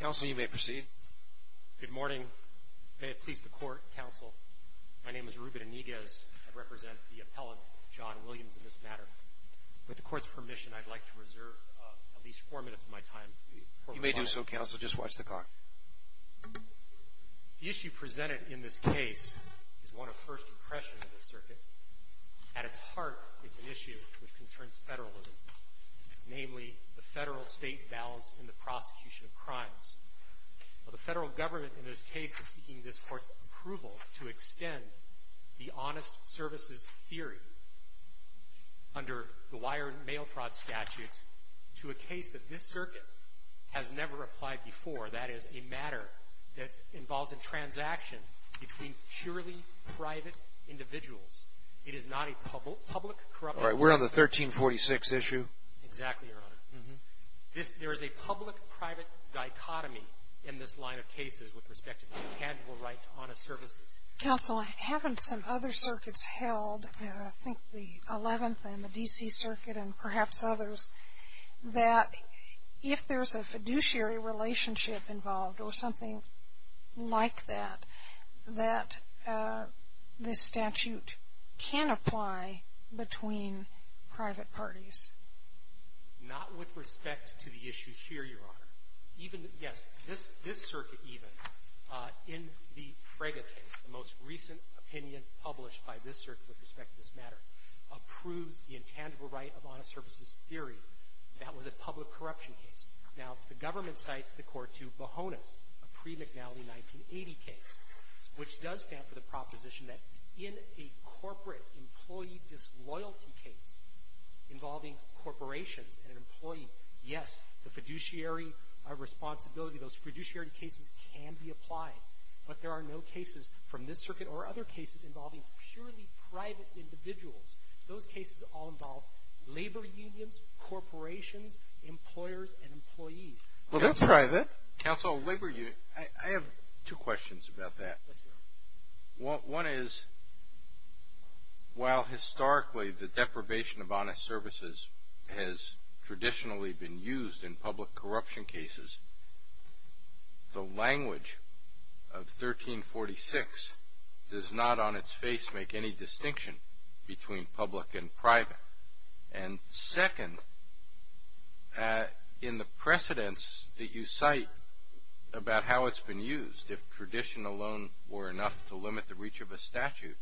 Counsel, you may proceed. Good morning. May it please the Court, Counsel, my name is Reuben Iniguez. I represent the appellant, John Williams, in this matter. With the Court's permission, I'd like to reserve at least four minutes of my time. You may do so, Counsel. Just watch the clock. The issue presented in this case is one of first impressions of the circuit. At its heart, it's an issue which concerns federalism, namely the federal-state balance in the prosecution of crimes. Well, the federal government in this case is seeking this Court's approval to extend the honest services theory under the wire and mail fraud statutes to a case that this circuit has never applied before, that is, a matter that involves a public corruption. All right. We're on the 1346 issue. Exactly, Your Honor. Mm-hmm. There is a public-private dichotomy in this line of cases with respect to the intangible right to honest services. Counsel, I have in some other circuits held, I think the 11th and the D.C. Circuit and perhaps others, that if there's a fiduciary relationship involved or something like that, that this statute can apply between private parties. Not with respect to the issue here, Your Honor. Even, yes, this circuit even, in the Frege case, the most recent opinion published by this circuit with respect to this matter, approves the intangible right of honest services theory. That was a public corruption case. Now, the 1980 case, which does stand for the proposition that in a corporate employee disloyalty case involving corporations and an employee, yes, the fiduciary responsibility, those fiduciary cases can be applied. But there are no cases from this circuit or other cases involving purely private individuals. Those cases all involve labor unions, corporations, employers and employees. Well, that's private. Counsel, labor unions, I have two questions about that. One is, while historically the deprivation of honest services has traditionally been used in public corruption cases, the language of 1346 does not on its face make any distinction between public and private. And second, in the precedence that you cite about how it's been used, if tradition alone were enough to limit the reach of a statute,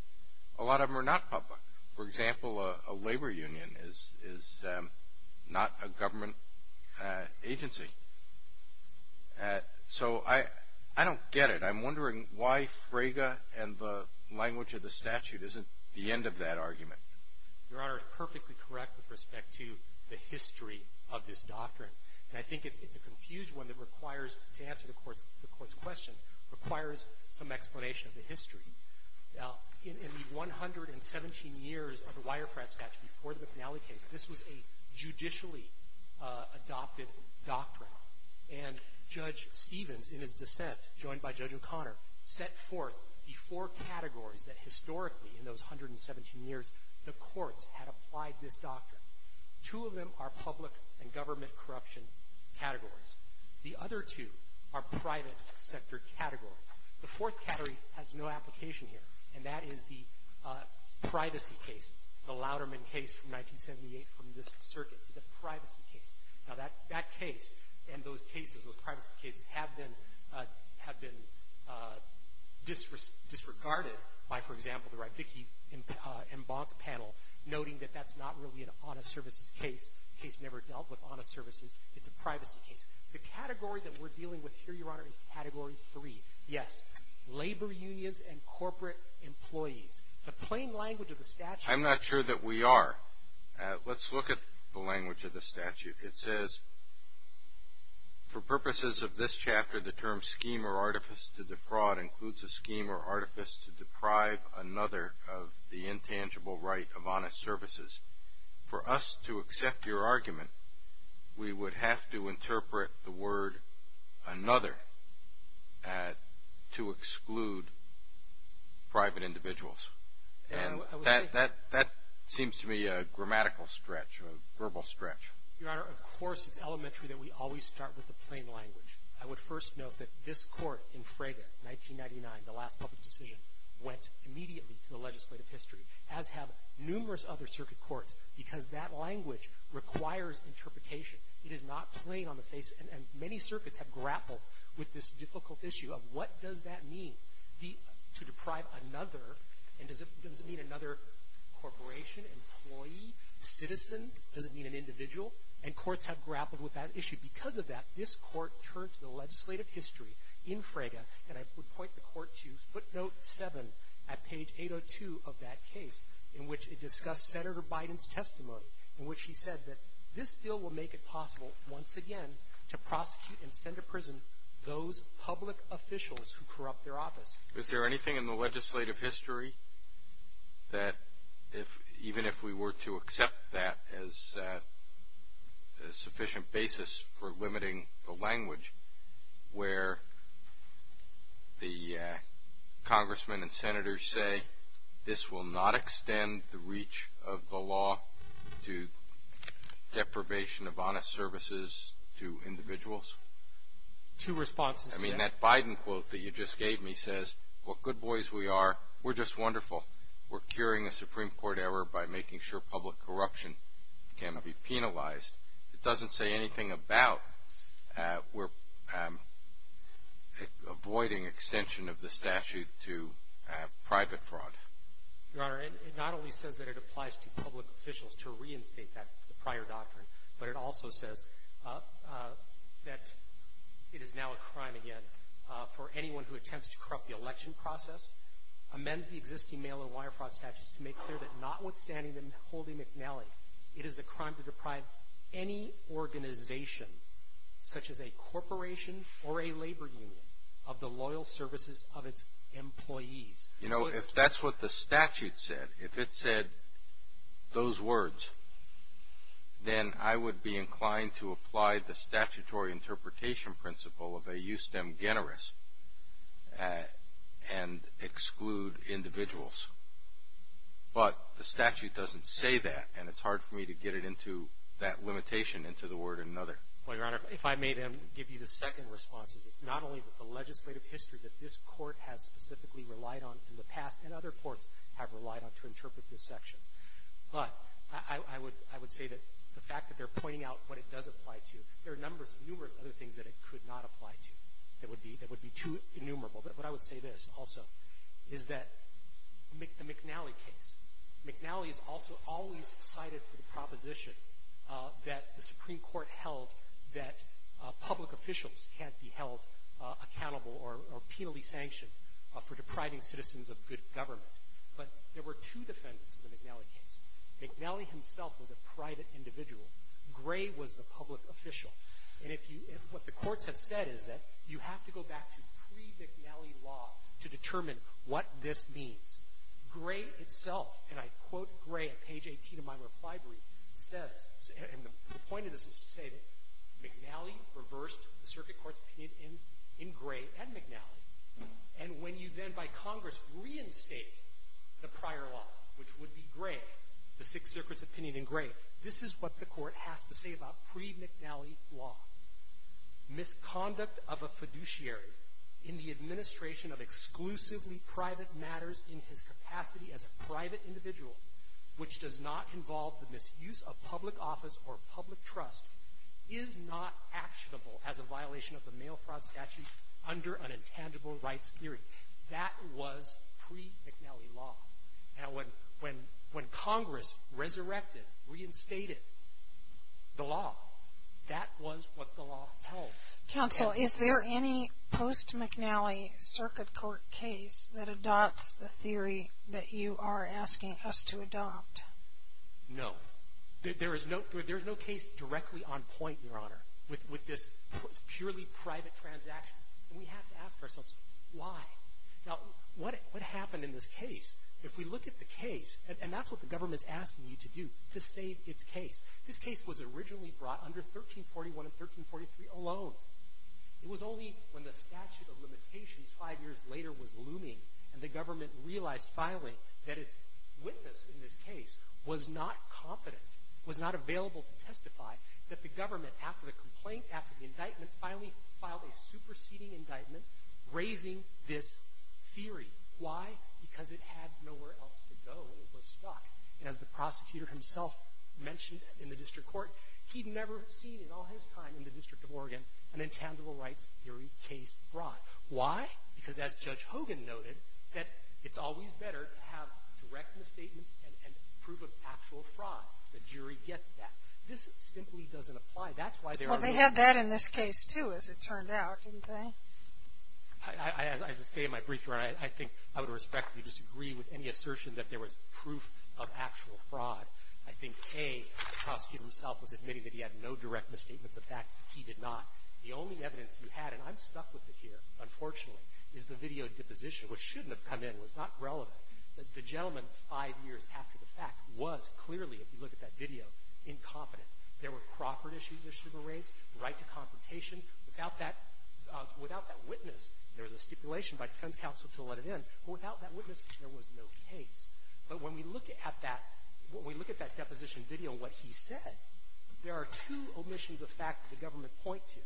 a lot of them are not public. For example, a labor union is not a government agency. So, I don't get it. I'm wondering why Frege and the language of the statute isn't the end of that argument. Your Honor, you're perfectly correct with respect to the history of this doctrine. And I think it's a confused one that requires, to answer the Court's question, requires some explanation of the history. Now, in the 117 years of the Wirefrat statute, before the McNally case, this was a judicially adopted doctrine. And Judge Stevens, in his dissent, joined by Judge O'Connor, set forth the four categories that historically, in those 117 years, the courts had applied this doctrine. Two of them are public and government corruption categories. The other two are private sector categories. The fourth category has no application here, and that is the privacy cases. The Louderman case from 1978 from the district circuit is a privacy case. Now, that case and those cases, those privacy cases, have been disregarded by, for example, the Rybicki and Bonk panel, noting that that's not really an honest services case. The case never dealt with honest services. It's a privacy case. The category that we're dealing with here, Your Honor, is category three. Yes, labor unions and corporate employees. The plain language of the statute… I'm not sure that we are. Let's look at the language of the statute. It says, for purposes of this chapter, the term scheme or artifice to defraud includes a scheme or artifice to deprive another of the intangible right of honest services. For us to accept your argument, we would have to interpret the word another to exclude private individuals. And that seems to me a grammatical stretch, a verbal stretch. Your Honor, of course it's elementary that we always start with the plain language. I would first note that this Court in Frege, 1999, the last public decision, went immediately to the legislative history, as have numerous other circuit courts, because that language requires interpretation. It is not plain on the face, and many circuits have grappled with this difficult issue of what does that mean, to deprive another, and does it mean another corporation, employee, citizen? Does it mean an individual? And courts have grappled with that issue. Because of that, this Court turned to the legislative history in Frege, and I would point the Court to footnote seven at page 802 of that case, in which it discussed Senator Biden's testimony, in which he said that this bill will make it possible, once again, to prosecute and send to prison those public officials who corrupt their office. Is there anything in the legislative history that, even if we were to accept that as a sufficient basis for limiting the language, where the congressmen and congresswomen are, to deprivation of the law, to deprivation of honest services to individuals? Two responses to that. I mean, that Biden quote that you just gave me says, what good boys we are, we're just wonderful. We're curing a Supreme Court error by making sure public corruption cannot be penalized. It doesn't say anything about we're avoiding extension of the statute to private fraud. Your Honor, it not only says that it applies to public officials to reinstate that prior doctrine, but it also says that it is now a crime, again, for anyone who attempts to corrupt the election process, amends the existing mail-in wire fraud statutes to make clear that notwithstanding the holding McNally, it is a crime to deprive any organization, such as a corporation or a labor union, of the loyal services of its employees. You know, if that's what the statute said, if it said those words, then I would be inclined to apply the statutory interpretation principle of a justem generis and exclude individuals. But the statute doesn't say that, and it's hard for me to get it into that limitation into the word another. Well, Your Honor, if I may then give you the second response. It's not only that the legislative history that this Court has specifically relied on in the past, and other courts have relied on to interpret this section, but I would say that the fact that they're pointing out what it does apply to, there are numbers, numerous other things that it could not apply to that would be too innumerable. But I would say this also, is that the McNally case, McNally is also always cited for the so-called accountable or penalty sanction for depriving citizens of good government. But there were two defendants in the McNally case. McNally himself was a private individual. Gray was the public official. And if you, what the courts have said is that you have to go back to pre-McNally law to determine what this means. Gray itself, and I quote Gray at page 18 of my reply brief, says, and the point of this is to say that McNally reversed the Circuit Court's opinion in Gray and McNally. And when you then by Congress reinstate the prior law, which would be Gray, the Sixth Circuit's opinion in Gray, this is what the Court has to say about pre-McNally law. Misconduct of a fiduciary in the administration of exclusively private matters in his capacity as a private individual, which does not involve the misuse of public office or public trust, is not actionable as a violation of the mail fraud statute under an intangible rights theory. That was pre-McNally law. Now, when Congress resurrected, reinstated the law, that was what the law held. MS. BENTON. Counsel, is there any post-McNally Circuit Court case that adopts the theory that you are asking us to adopt? MR. GOTTLIEB. There's no case directly on point, Your Honor, with this purely private transaction. And we have to ask ourselves, why? Now, what happened in this case, if we look at the case, and that's what the government is asking you to do, to save its case. This case was originally brought under 1341 and 1343 alone. It was only when the statute of limitations five years later was looming and the government realized, finally, that its witness in this case was not competent, was not available to testify, that the government, after the complaint, after the indictment, finally filed a superseding indictment raising this theory. Why? Because it had nowhere else to go. It was stuck. And as the prosecutor himself mentioned in the district court, he'd never seen in all his time in the District of Oregon an intangible rights theory case brought. Why? Because as Judge Hogan noted, that it's always better to have direct misstatements and proof of actual fraud. The jury gets that. This simply doesn't apply. That's why there are no other cases. MS. KAYE. Well, they had that in this case, too, as it turned out, didn't they? MR. GOTTLIEB. As I say in my brief, Your Honor, I think I would respectfully disagree with any assertion that there was proof of actual fraud. I think, A, the prosecutor himself was admitting that he had no direct misstatements of that. He did not. The only evidence you had, and I'm stuck with it here, unfortunately, is the video deposition, which shouldn't have come in. It was not relevant. The gentleman, five years after the fact, was clearly, if you look at that video, incompetent. There were proffered issues that should have been raised, right to confrontation. Without that witness, there was a stipulation by defense counsel to let it in. Without that witness, there was no case. But when we look at that deposition video and what he said, there are two omissions of fact that the government points to.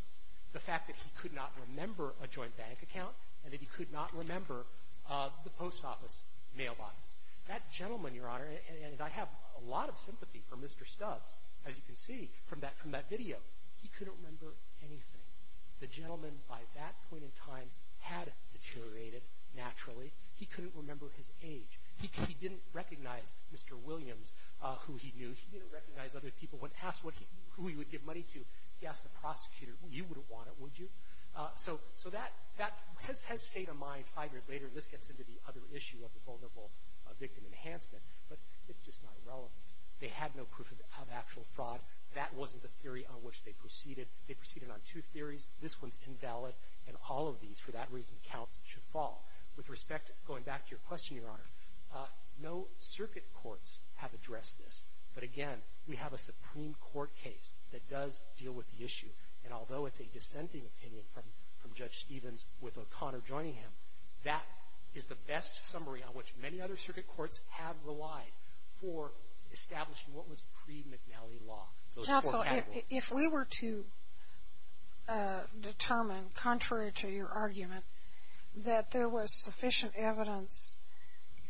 The fact that he could not remember a joint bank account and that he could not remember the post office mailboxes. That gentleman, Your Honor, and I have a lot of sympathy for Mr. Stubbs, as you can see from that video. He couldn't remember anything. The gentleman, by that point in time, had deteriorated naturally. He couldn't remember his age. He didn't recognize Mr. Williams, who he knew. He didn't recognize other people. When asked who he would give money to, he asked the prosecutor, you wouldn't want it, would you? So that has stayed in mind five years later. This gets into the other issue of the vulnerable victim enhancement. But it's just not relevant. They had no proof of actual fraud. That wasn't the theory on which they proceeded. They proceeded on two theories. This one's invalid. And all of these, for that reason, counts. It should fall. With respect, going back to your question, Your Honor, no circuit courts have addressed this, but again, we have a Supreme Court case that does deal with the issue. And although it's a dissenting opinion from Judge Stevens with O'Connor joining him, that is the best summary on which many other circuit courts have relied for establishing what was pre-McNally law, those four categories. If we were to determine, contrary to your argument, that there was sufficient evidence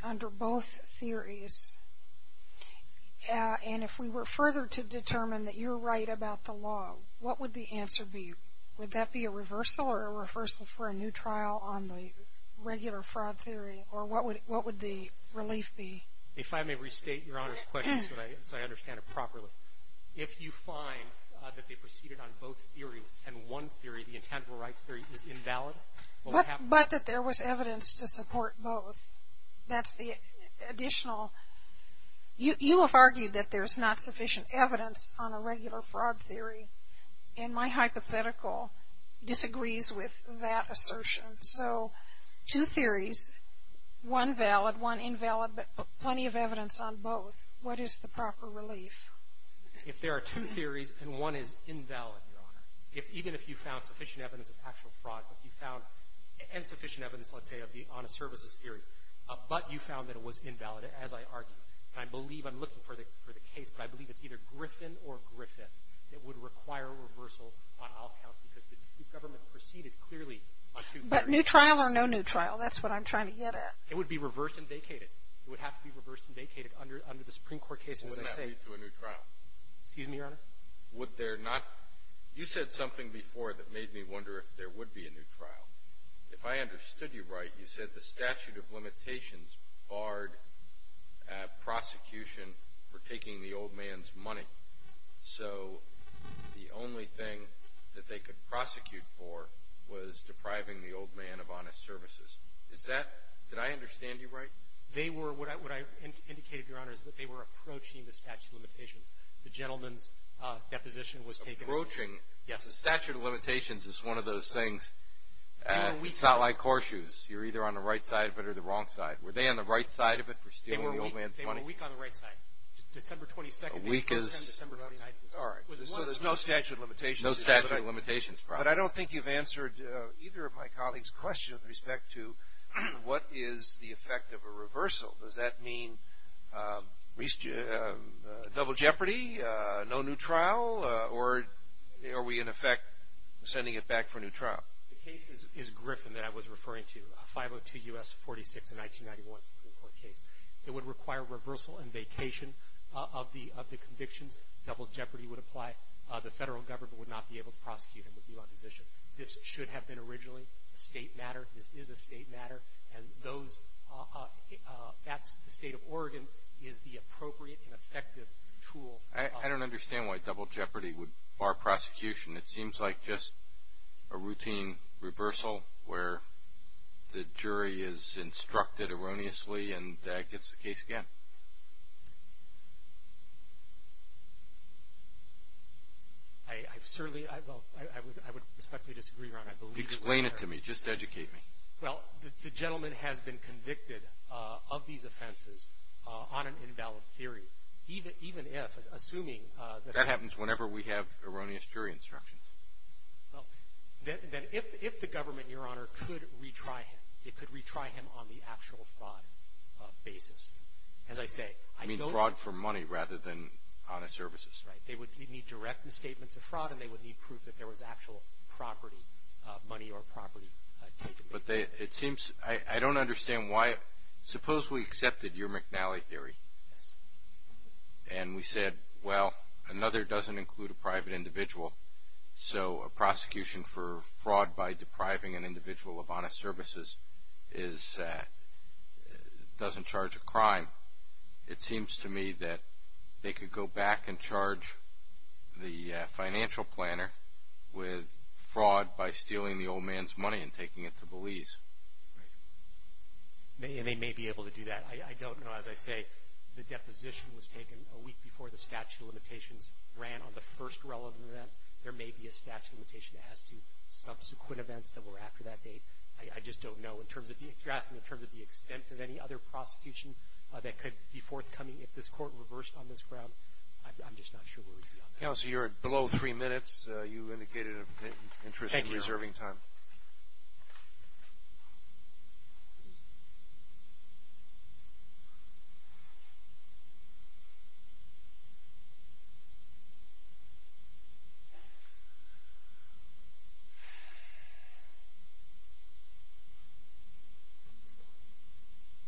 under both theories, and if we were further to determine that you're right about the law, what would the answer be? Would that be a reversal or a reversal for a new trial on the regular fraud theory? Or what would the relief be? If I may restate Your Honor's question so I understand it properly. So if you find that they proceeded on both theories and one theory, the intangible rights theory, is invalid, what would happen? But that there was evidence to support both. That's the additional. You have argued that there's not sufficient evidence on a regular fraud theory. And my hypothetical disagrees with that assertion. So two theories, one valid, one invalid, but plenty of evidence on both. What is the proper relief? If there are two theories and one is invalid, Your Honor, even if you found sufficient evidence of actual fraud, if you found insufficient evidence, let's say, of the honest services theory, but you found that it was invalid, as I argued, and I believe I'm looking for the case, but I believe it's either Griffin or Griffin that would require reversal on all counts because the government proceeded clearly on two theories. But new trial or no new trial? That's what I'm trying to get at. It would be reversed and vacated. It would have to be reversed and vacated under the Supreme Court case, as I say. Wouldn't that lead to a new trial? Excuse me, Your Honor? Would there not? You said something before that made me wonder if there would be a new trial. If I understood you right, you said the statute of limitations barred prosecution for taking the old man's money. So the only thing that they could prosecute for was depriving the old man of honest services. Is that — did I understand you right? They were — what I indicated, Your Honor, is that they were approaching the statute of limitations. The gentleman's deposition was taken. Approaching? Yes. The statute of limitations is one of those things. It's not like horseshoes. You're either on the right side of it or the wrong side. Were they on the right side of it for stealing the old man's money? They were weak on the right side. December 22nd. A week is — December 29th. All right. So there's no statute of limitations. No statute of limitations, probably. But I don't think you've answered either of my colleagues' questions with respect to what is the effect of a reversal. Does that mean double jeopardy, no new trial, or are we, in effect, sending it back for a new trial? The case is Griffin that I was referring to, a 502 U.S. 46 in 1991 Supreme Court case. It would require reversal and vacation of the convictions. Double jeopardy would apply. The federal government would not be able to prosecute him. It would be an opposition. This should have been originally a state matter. This is a state matter. And those — that's the state of Oregon, is the appropriate and effective tool. I don't understand why double jeopardy would bar prosecution. It seems like just a routine reversal where the jury is instructed erroneously and gets the case again. I've certainly — well, I would respectfully disagree, Your Honor. Explain it to me. Just educate me. Well, the gentleman has been convicted of these offenses on an invalid theory, even if, assuming — That happens whenever we have erroneous jury instructions. Well, then if the government, Your Honor, could retry him, it could retry him on the actual fraud basis. As I say, I don't — You mean fraud for money rather than honest services. They would need direct statements of fraud, and they would need proof that there was actual property, money or property taken. But they — it seems — I don't understand why — suppose we accepted your McNally theory. Yes. And we said, well, another doesn't include a private individual. So a prosecution for fraud by depriving an individual of honest services is — doesn't charge a crime. It seems to me that they could go back and charge the financial planner with fraud by stealing the old man's money and taking it to Belize. Right. And they may be able to do that. I don't know. As I say, the deposition was taken a week before the statute of limitations ran on the first relevant event. There may be a statute of limitation as to subsequent events that were after that date. I just don't know. If you're asking in terms of the extent of any other prosecution that could be forthcoming if this court reversed on this ground, I'm just not sure where we'd be on that. Counsel, you're below three minutes. You indicated an interest in reserving time. Thank you.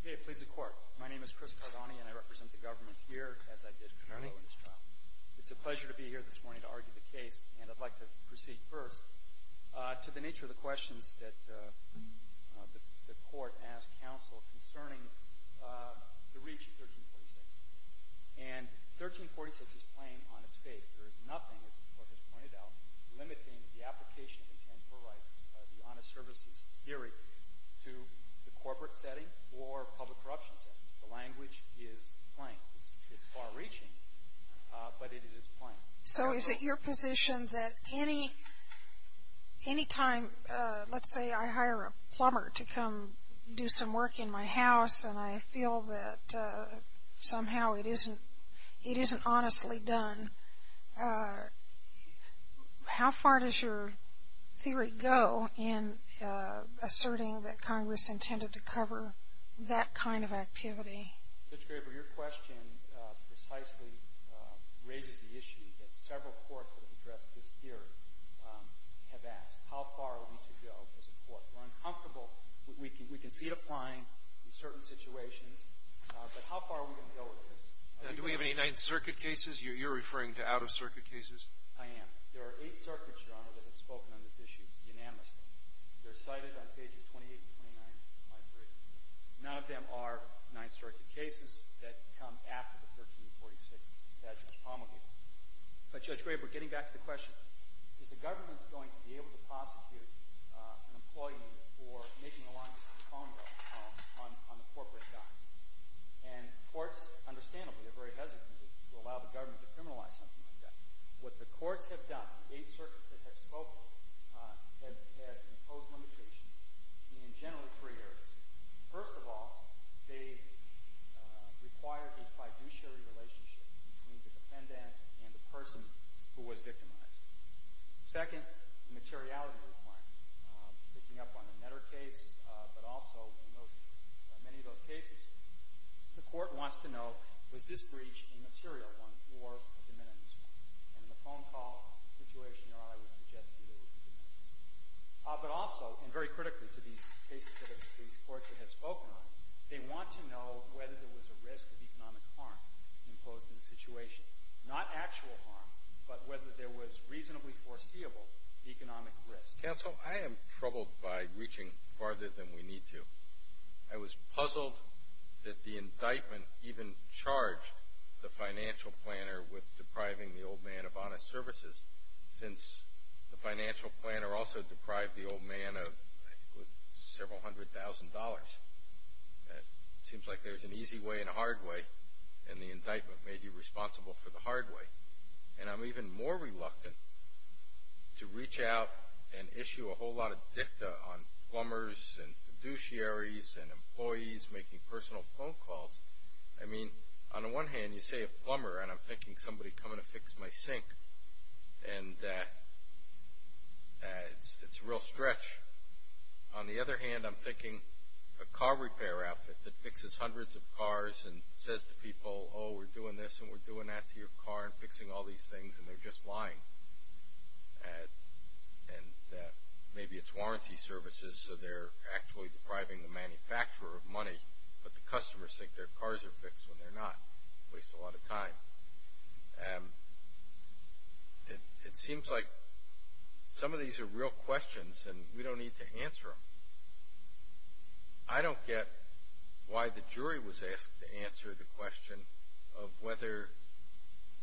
Okay. Please, the Court. My name is Chris Cardone, and I represent the government here, as I did earlier in this trial. It's a pleasure to be here this morning to argue the case, and I'd like to proceed first. To the nature of the questions that the Court asked counsel concerning the reach of 1346. And 1346 is plain on its face. There is nothing, as the Court has pointed out, limiting the application of intangible rights, the honest services theory, to the corporate setting or public corruption setting. The language is plain. It's far-reaching, but it is plain. So is it your position that any time, let's say I hire a plumber to come do some work in my house and I feel that somehow it isn't honestly done, how far does your theory go in asserting that Congress intended to cover that kind of activity? Judge Graber, your question precisely raises the issue that several courts that have addressed this theory have asked. How far are we to go as a court? We're uncomfortable. We can see it applying in certain situations, but how far are we going to go with this? Do we have any Ninth Circuit cases? You're referring to out-of-circuit cases? I am. There are eight circuits, Your Honor, that have spoken on this issue unanimously. They're cited on pages 28 and 29 of my brief. None of them are Ninth Circuit cases that come after the 1346 passage of the promulgate. But, Judge Graber, getting back to the question, is the government going to be able to prosecute an employee for making a long-distance phone call on a corporate dime? And courts, understandably, are very hesitant to allow the government to criminalize something like that. What the courts have done, eight circuits that have spoken, have imposed limitations in generally three areas. First of all, they require a fiduciary relationship between the defendant and the person who was victimized. Second, the materiality requirement. Picking up on the Netter case, but also in many of those cases, the court wants to know, was this breach a material one or a diminished one? And in the phone call situation, Your Honor, I would suggest that it was a diminished one. But also, and very critically to these cases that these courts have spoken on, they want to know whether there was a risk of economic harm imposed in the situation. Not actual harm, but whether there was reasonably foreseeable economic risk. Counsel, I am troubled by reaching farther than we need to. I was puzzled that the indictment even charged the financial planner with depriving the old man of honest services, since the financial planner also deprived the old man of several hundred thousand dollars. It seems like there's an easy way and a hard way, and the indictment may be responsible for the hard way. And I'm even more reluctant to reach out and issue a whole lot of dicta on plumbers and fiduciaries and employees making personal phone calls. I mean, on the one hand, you say a plumber, and I'm thinking somebody coming to fix my sink, and it's a real stretch. On the other hand, I'm thinking a car repair outfit that fixes hundreds of cars and says to people, oh, we're doing this and we're doing that to your car and fixing all these things, and they're just lying. And maybe it's warranty services, so they're actually depriving the manufacturer of money, but the customers think their cars are fixed when they're not. It wastes a lot of time. It seems like some of these are real questions, and we don't need to answer them. I don't get why the jury was asked to answer the question of whether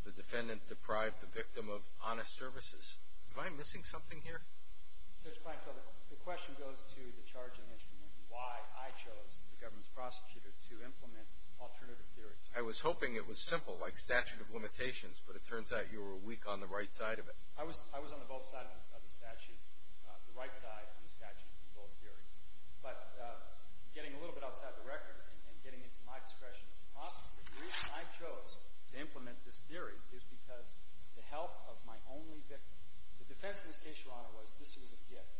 the defendant deprived the victim of honest services. Am I missing something here? Mr. Kleinfeld, the question goes to the charging instrument and why I chose the government's prosecutor to implement alternative theories. I was hoping it was simple, like statute of limitations, but it turns out you were weak on the right side of it. I was on the both sides of the statute, the right side of the statute in both theories. But getting a little bit outside the record and getting into my discretion as a prosecutor, the reason I chose to implement this theory is because the health of my only victim. The defense in this case, Your Honor, was this was a gift.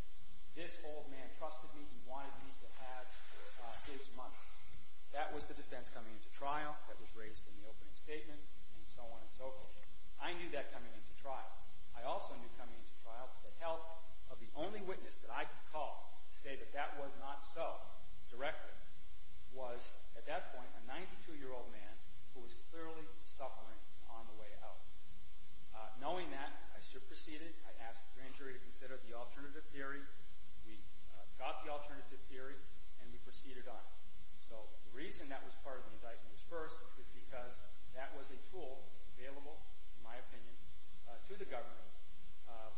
This old man trusted me. He wanted me to have his money. That was the defense coming into trial that was raised in the opening statement and so on and so forth. I knew that coming into trial. I also knew coming into trial that health of the only witness that I could call to say that that was not so directly was at that point a 92-year-old man who was clearly suffering on the way out. Knowing that, I superseded. I asked the grand jury to consider the alternative theory. We got the alternative theory, and we proceeded on. So the reason that was part of the indictment at first is because that was a tool available, in my opinion, to the government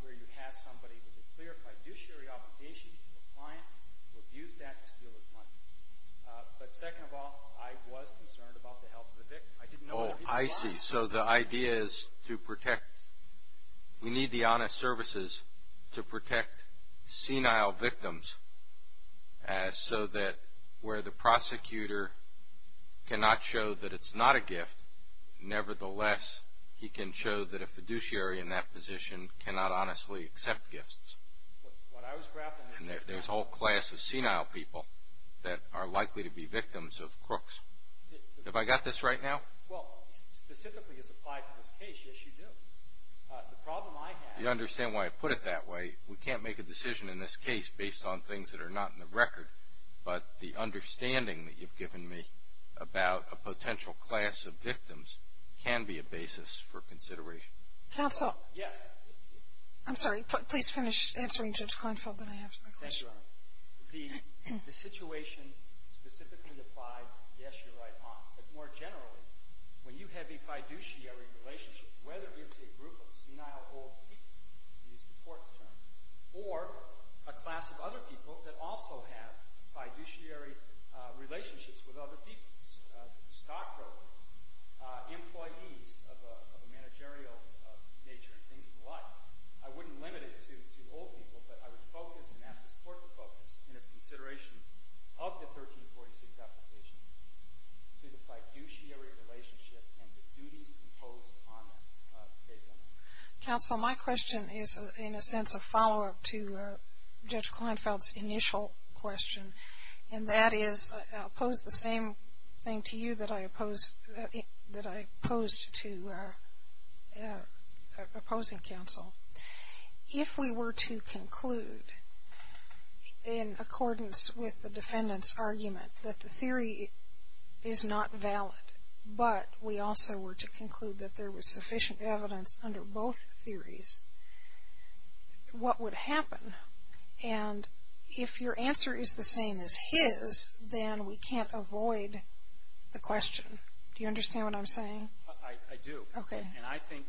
where you have somebody with a clarified judiciary obligation to the client who abused that to steal his money. But second of all, I was concerned about the health of the victim. I didn't know what he was on. I see. So the idea is to protect. We need the honest services to protect senile victims so that where the prosecutor cannot show that it's not a gift, nevertheless, he can show that a fiduciary in that position cannot honestly accept gifts. There's a whole class of senile people that are likely to be victims of crooks. Have I got this right now? Well, specifically as applied to this case, yes, you do. The problem I have… You understand why I put it that way. We can't make a decision in this case based on things that are not in the record, but the understanding that you've given me about a potential class of victims can be a basis for consideration. Counsel. Yes. I'm sorry. Please finish answering, Judge Kleinfeld, then I have my question. Thank you, Your Honor. The situation specifically applied, yes, you're right, Hon. But more generally, when you have a fiduciary relationship, whether it's a group of senile old people, to use the court's term, or a class of other people that also have fiduciary relationships with other people, stockbrokers, employees of a managerial nature and things of the like, I wouldn't limit it to old people, but I would focus and ask the court to focus, in its consideration of the 1346 application, to the fiduciary relationship and the duties imposed on them based on that. Counsel, my question is, in a sense, a follow-up to Judge Kleinfeld's initial question, and that is I'll pose the same thing to you that I posed to opposing counsel. If we were to conclude, in accordance with the defendant's argument, that the theory is not valid, but we also were to conclude that there was sufficient evidence under both theories, what would happen? And if your answer is the same as his, then we can't avoid the question. Do you understand what I'm saying? I do. Okay. And I think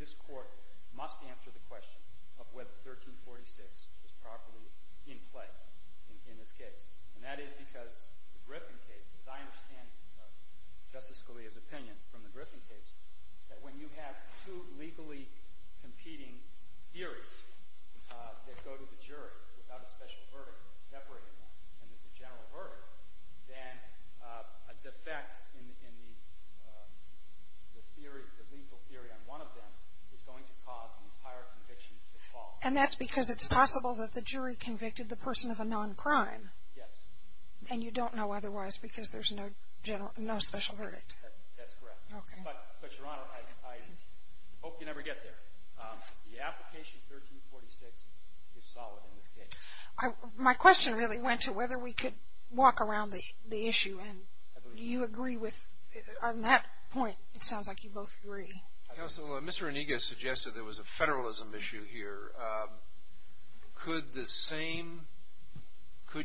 this court must answer the question of whether 1346 is properly in play in this case. And that is because the Griffin case, as I understand Justice Scalia's opinion from the Griffin case, that when you have two legally competing theories that go to the jury without a special verdict separating them, and there's a general verdict, then a defect in the theory, the legal theory on one of them is going to cause an entire conviction to fall. And that's because it's possible that the jury convicted the person of a non-crime. Yes. And you don't know otherwise because there's no general, no special verdict. That's correct. Okay. But, Your Honor, I hope you never get there. The application 1346 is solid in this case. My question really went to whether we could walk around the issue. Do you agree with that point? It sounds like you both agree. Mr. Onega suggested there was a federalism issue here. Could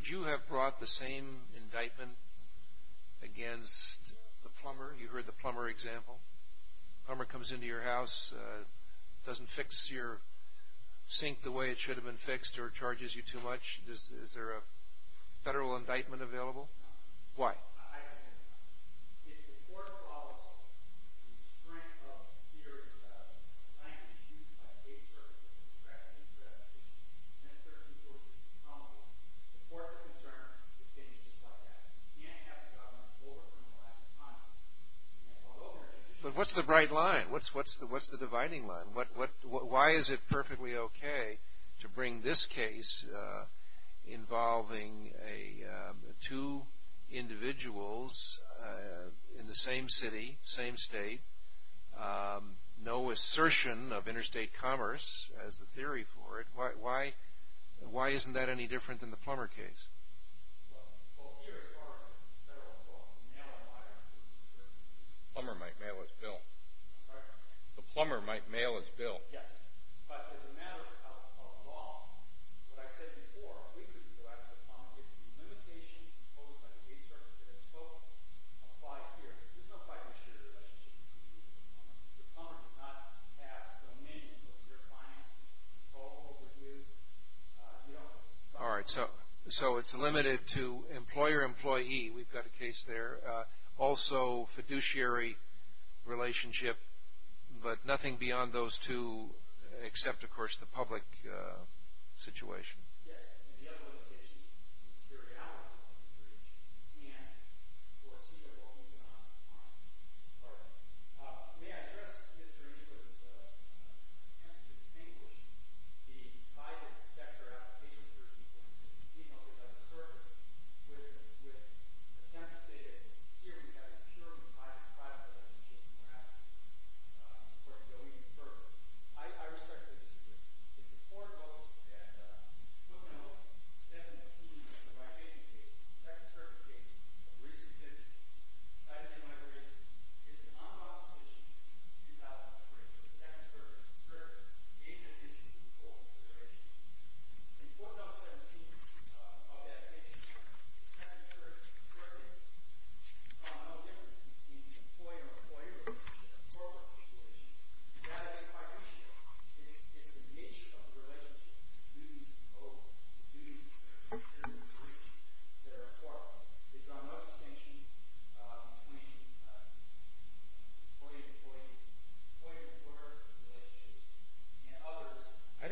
you have brought the same indictment against the plumber? You heard the plumber example. Plumber comes into your house, doesn't fix your sink the way it should have been fixed, or charges you too much? Is there a federal indictment available? No. Why? I second that. If the court follows the strength of the theory of language used by the aid services and the direct interest institutions, since 1346 is common law, the court is concerned it's going to be just like that. You can't have the government overprim the last time. But what's the bright line? What's the dividing line? Why is it perfectly okay to bring this case involving two individuals in the same city, same state, no assertion of interstate commerce as the theory for it? Why isn't that any different than the plumber case? Well, the plumber might mail his bill. Right. The plumber might mail his bill. Yes. But as a matter of law, what I said before, we could go out to the plumber and give him the limitations imposed by the aid service that I spoke of five years. There's no five-year relationship between you and the plumber. The plumber does not have dominion over your finances, control over you. All right. So it's limited to employer-employee. We've got a case there. Also, fiduciary relationship. But nothing beyond those two except, of course, the public situation. Yes, and the other limitation is the periodicality of the breach and foreseeable economic harm. All right. May I address Mr. Evers' attempt to distinguish the five-year inspector application with respect to the second circuit? Here, we have a purely private relationship, and we're asking the court to go even further. I respect the decision. If the court votes that footnote 17 of the right-of-way case, the second circuit case of recent history, that is, in my opinion, is an on-office issue since 2003. So the second circuit is a major issue in the coal corporation. The footnote 17 of that case, the second circuit, saw no difference between employer-employee relationship and corporate relationship. And that is, in my opinion, is the nature of the relationship to duties and overs, to duties and overs, that are important. There's no distinction between employer-employee relationship and others. I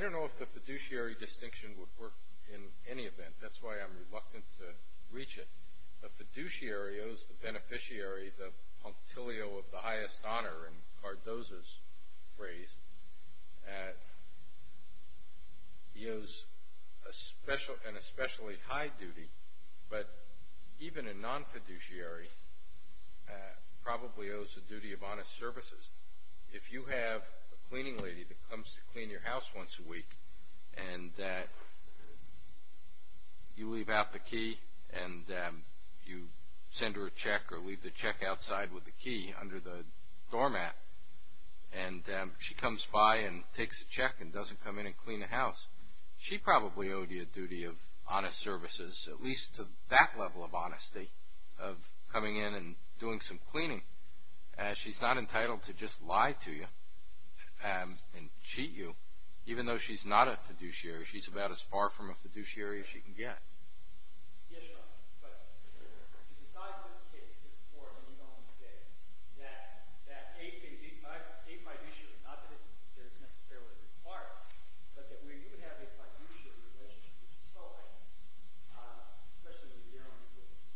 don't know if the fiduciary distinction would work in any event. That's why I'm reluctant to reach it. The fiduciary owes the beneficiary the punctilio of the highest honor, in Cardozo's phrase. He owes an especially high duty, but even a non-fiduciary probably owes the duty of honest services. If you have a cleaning lady that comes to clean your house once a week and you leave out the key and you send her a check or leave the check outside with the key under the doormat, and she comes by and takes a check and doesn't come in and clean the house, she probably owed you a duty of honest services, at least to that level of honesty, of coming in and doing some cleaning. She's not entitled to just lie to you and cheat you. Even though she's not a fiduciary, she's about as far from a fiduciary as she can get. Yes, Your Honor. But to decide this case, it's important for me to only say that a fiduciary, not that it's necessarily required, but that where you would have a fiduciary relationship, which is so important, especially when you're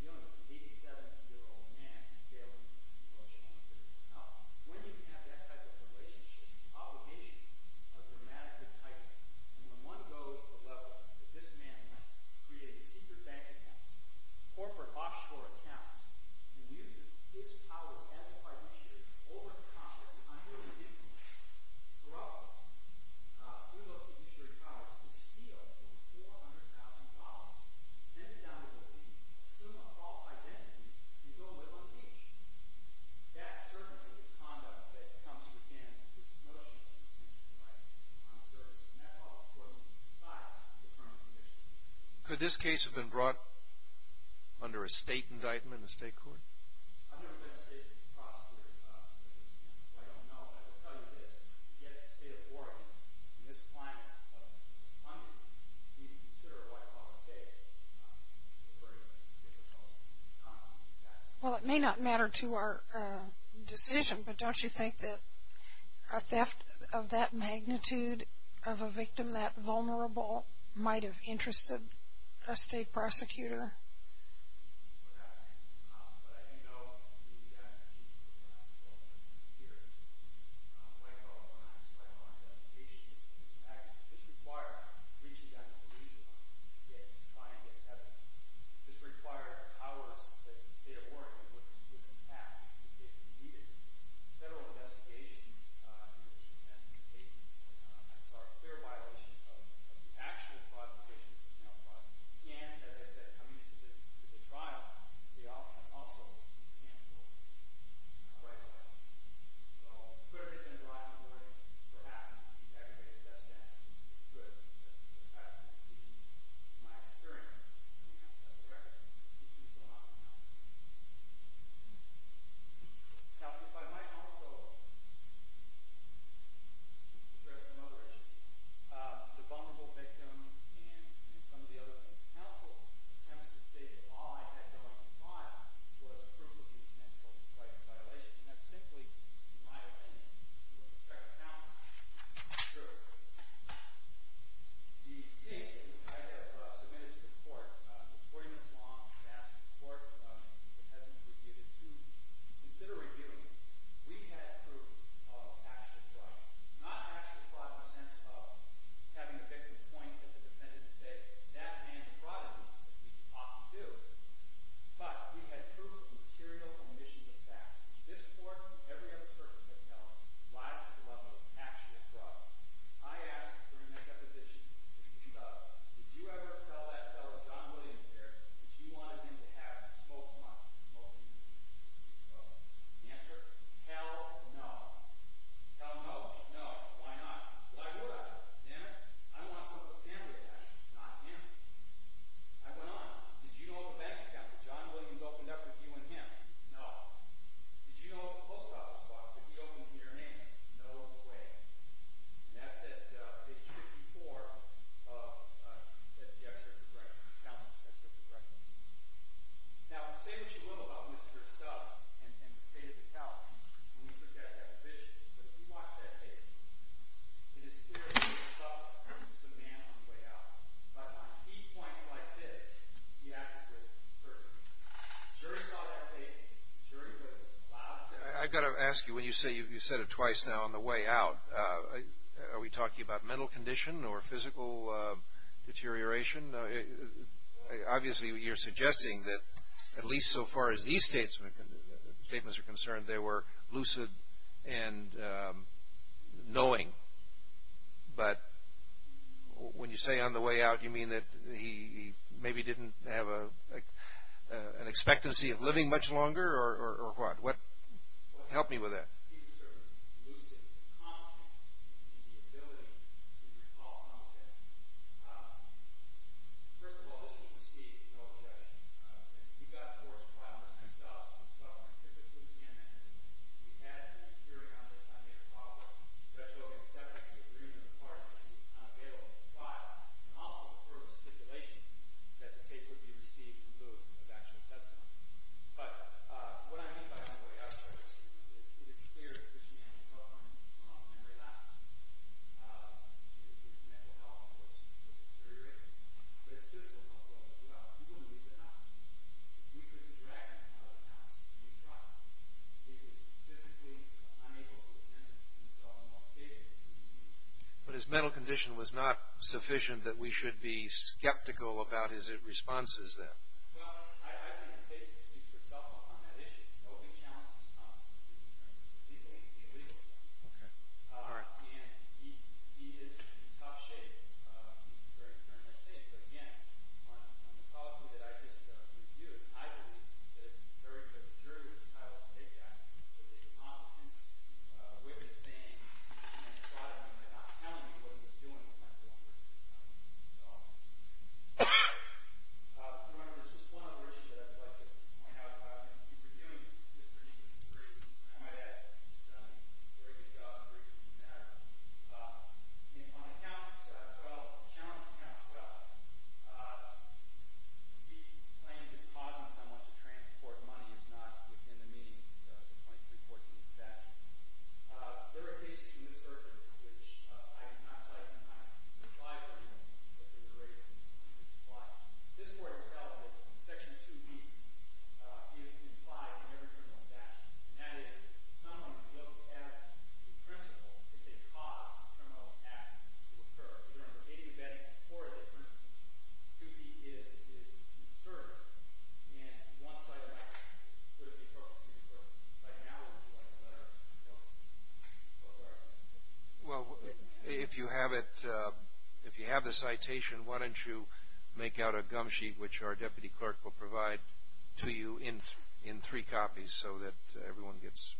dealing with an 87-year-old man and you're dealing with a fiduciary. Now, when you have that type of relationship, obligations are dramatically tightened. And when one goes to the level that this man has created secret bank accounts, corporate offshore accounts, and uses his powers as a fiduciary to overcome the underlying difficulties, corrupt the fiduciary products, and steal over $400,000, send it down to the police, assume a false identity, and go live on the beach, that certainly is conduct that comes within this notion of a fiduciary right on services. And that's all important to decide the firm of conviction. Could this case have been brought under a state indictment in the state court? I've never been a state prosecutor with this case, so I don't know. But I will tell you this. You get a state of Oregon in this climate of hunger, you need to consider a white collar case where it was difficult. Well, it may not matter to our decision, but don't you think that a theft of that magnitude of a victim, that vulnerable, might have interested a state prosecutor? For that. But as you know, we have a huge number of white collar cases here. White collar crimes, white collar devastation, it's a magnitude. This requires reaching out to the region to try and get evidence. This requires powers that the state of Oregon would have if this is a case we needed. Federal investigations tend to take a fair violation of the actual qualifications of male prosecutors. And, as I said, coming into the trial, they often also can't go right away. So, could it have been brought under a perhaps an aggravated death penalty? It could. It happens to be my experience. Now, if I might also address another issue. The vulnerable victim, and some of the other counsel attempts to state that all I had going on was proof of the potential white collar violation. That's simply, in my opinion, with respect to counsel, it's true. The case I have submitted to the court, 40 minutes long, I've asked the court, if it hasn't reviewed it, to consider reviewing it. We had proof of actual fraud. Not actual fraud in the sense of having the victim point at the defendant and say, that man fraud is what we ought to do. But, we had proof of material omissions of facts. This court, every other court that I've known, lies to the level of actual fraud. I asked, during that deposition, did you ever tell that fellow, John Williams there, that you wanted him to have both months, both evenings? The answer, hell no. Hell no. No. Why not? Well, I would. Damn it. I don't want some of the family to have him. Not him. I went on. Did you know what the bank account that John Williams opened up with you and him? No. Did you know what the post office box that he opened with your name? No. No way. And that's at page 54 of the extracurricular account. Now, say what you will about Mr. Stubbs and the state of his health when you took that deposition. But if you watch that tape, it is clear that Mr. Stubbs was just a man on the way out. But on key points like this, he acted with certainty. The jury saw that tape. The jury was loud. I've got to ask you, when you say you said it twice now, on the way out, are we talking about mental condition or physical deterioration? Obviously, you're suggesting that at least so far as these statements are concerned, they were lucid and knowing. But when you say on the way out, you mean that he maybe didn't have an expectancy of living much longer? Or what? Help me with that. He was sort of lucid, competent, in the ability to recall some of it. First of all, this was received well-read. And he got forward to file Mr. Stubbs on 12th and 15th of January. We had a jury on this Sunday that followed, especially when we accepted the agreement of the parties that he was unavailable to file, and also the further stipulation that the tape would be received in lieu of actual testimony. But what I mean by on the way out is it is clear that this man was suffering from memory loss. His mental health, of course, was deteriorating. But his physical health was as well. You wouldn't believe that, would you? We took his record out of his house, and we tried. He was physically unable to attend himself in most cases. But his mental condition was not sufficient that we should be skeptical about his responses then. Well, I think the case speaks for itself on that issue. No big challenge. He is in tough shape. But again, on the policy that I just reviewed, I believe that it's very good. The jury was entitled to take that. But the incompetence with his name and not telling you what he was doing was not going to work at all. Remember, there's just one other issue that I'd like to point out. If you were doing this for any reason, I might add that it's a very good job of briefing you on that. On account as well, a challenge to account as well, he claimed that causing someone to transport money is not within the meaning of the 2314 statute. There are cases in this circuit which I did not cite in my reply to him, but they were raised in his reply. This court has held that Section 2B is implied in every criminal statute. And that is, someone who looks as the principal if they cause a criminal act to occur, whether it's a dating event or as a principal, 2B is inserted, and one-sided action could be appropriate to the person. By now, it would be like a letter. Well, sorry. Well, if you have the citation, why don't you make out a gum sheet which our deputy clerk will provide to you in three copies so that everyone gets...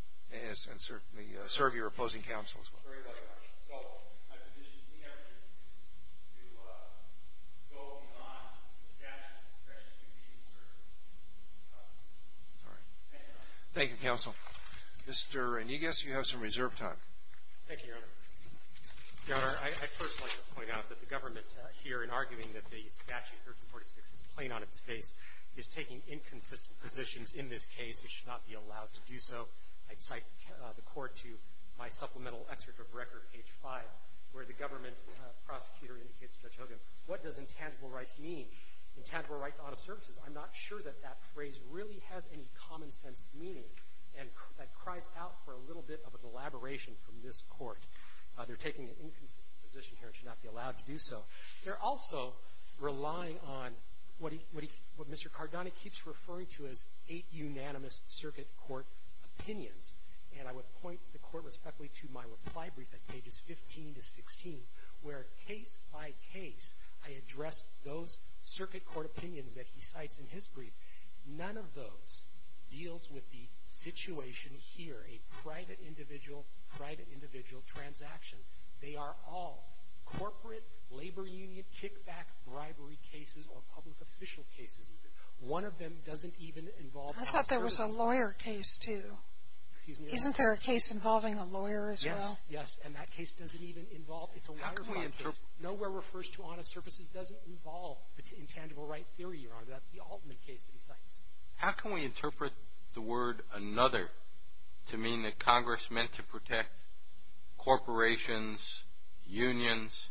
Thank you, counsel. Mr. Reynigas, you have some reserve time. Thank you, Your Honor. Your Honor, I'd first like to point out that the government here, in arguing that the Statute 1346 is plain on its face, is taking inconsistent positions in this case. It should not be allowed to do so. I'd cite the court to my supplemental excerpt of record, page 5, where the government prosecutor indicates to Judge Hogan, what does intangible rights mean? Intangible rights to auto services. I'm not sure that that phrase really has any common-sense meaning. And that cries out for a little bit of an elaboration from this court. They're taking an inconsistent position here and should not be allowed to do so. They're also relying on what Mr. Cardone keeps referring to as eight unanimous circuit court opinions. And I would point the court respectfully to my reply brief at pages 15 to 16, where case by case, I address those circuit court opinions that he cites in his brief. None of those deals with the situation here, a private individual, private individual transaction. They are all corporate labor union kickback bribery cases or public official cases even. One of them doesn't even involve auto services. I thought there was a lawyer case, too. Excuse me? Isn't there a case involving a lawyer as well? Yes, yes. And that case doesn't even involve How can we interpret that? Nowhere refers to auto services doesn't involve intangible right theory, Your Honor. That's the ultimate case that he cites. How can we interpret the word another to mean that Congress meant to protect corporations, unions,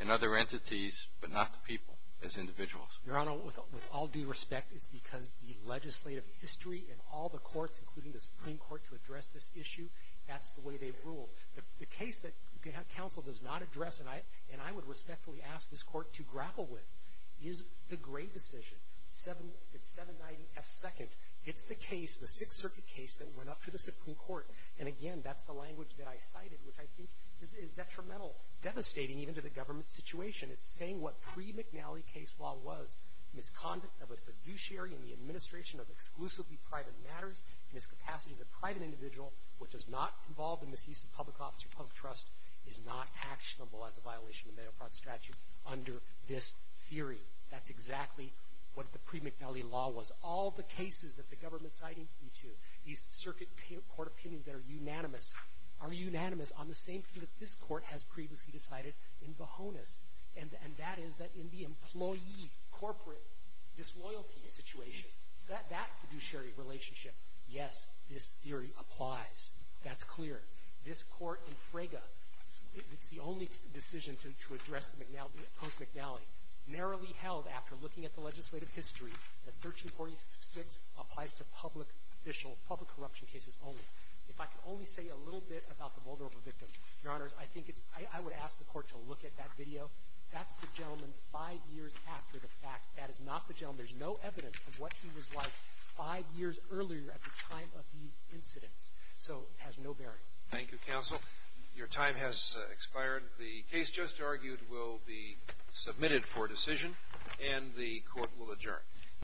and other entities, but not the people as individuals? Your Honor, with all due respect, it's because the legislative history and all the courts, including the Supreme Court, to address this issue, that's the way they've ruled. The case that counsel does not address, and I would respectfully ask this court to grapple with, is the Gray decision. It's 790 F. Second. It's the case, the Sixth Circuit case, that went up to the Supreme Court. And again, that's the language that I cited, which I think is detrimental, devastating even to the government's situation. It's saying what pre-McNally case law was, misconduct of a fiduciary in the administration of exclusively private matters, miscapacity as a private individual which is not involved in misuse of public office or public trust, is not actionable as a violation under this theory. That's exactly what the pre-McNally law was. All the cases that the government's citing, these circuit court opinions that are unanimous, are unanimous on the same thing that this court has previously decided in Bohonas. And that is that in the employee, corporate disloyalty situation, that fiduciary relationship, yes, this theory applies. That's clear. This court in Frega, it's the only decision to address post-McNally, narrowly held after looking at the legislative history that 1346 applies to public corruption cases only. If I could only say a little bit about the Moldova victim, Your Honors, I think it's, I would ask the court to look at that video. That's the gentleman five years after the fact. That is not the gentleman. There's no evidence of what he was like five years earlier at the time of these incidents. So it has no bearing. Thank you, Counsel. Your time has expired. The case just argued will be submitted for decision, and the court will adjourn.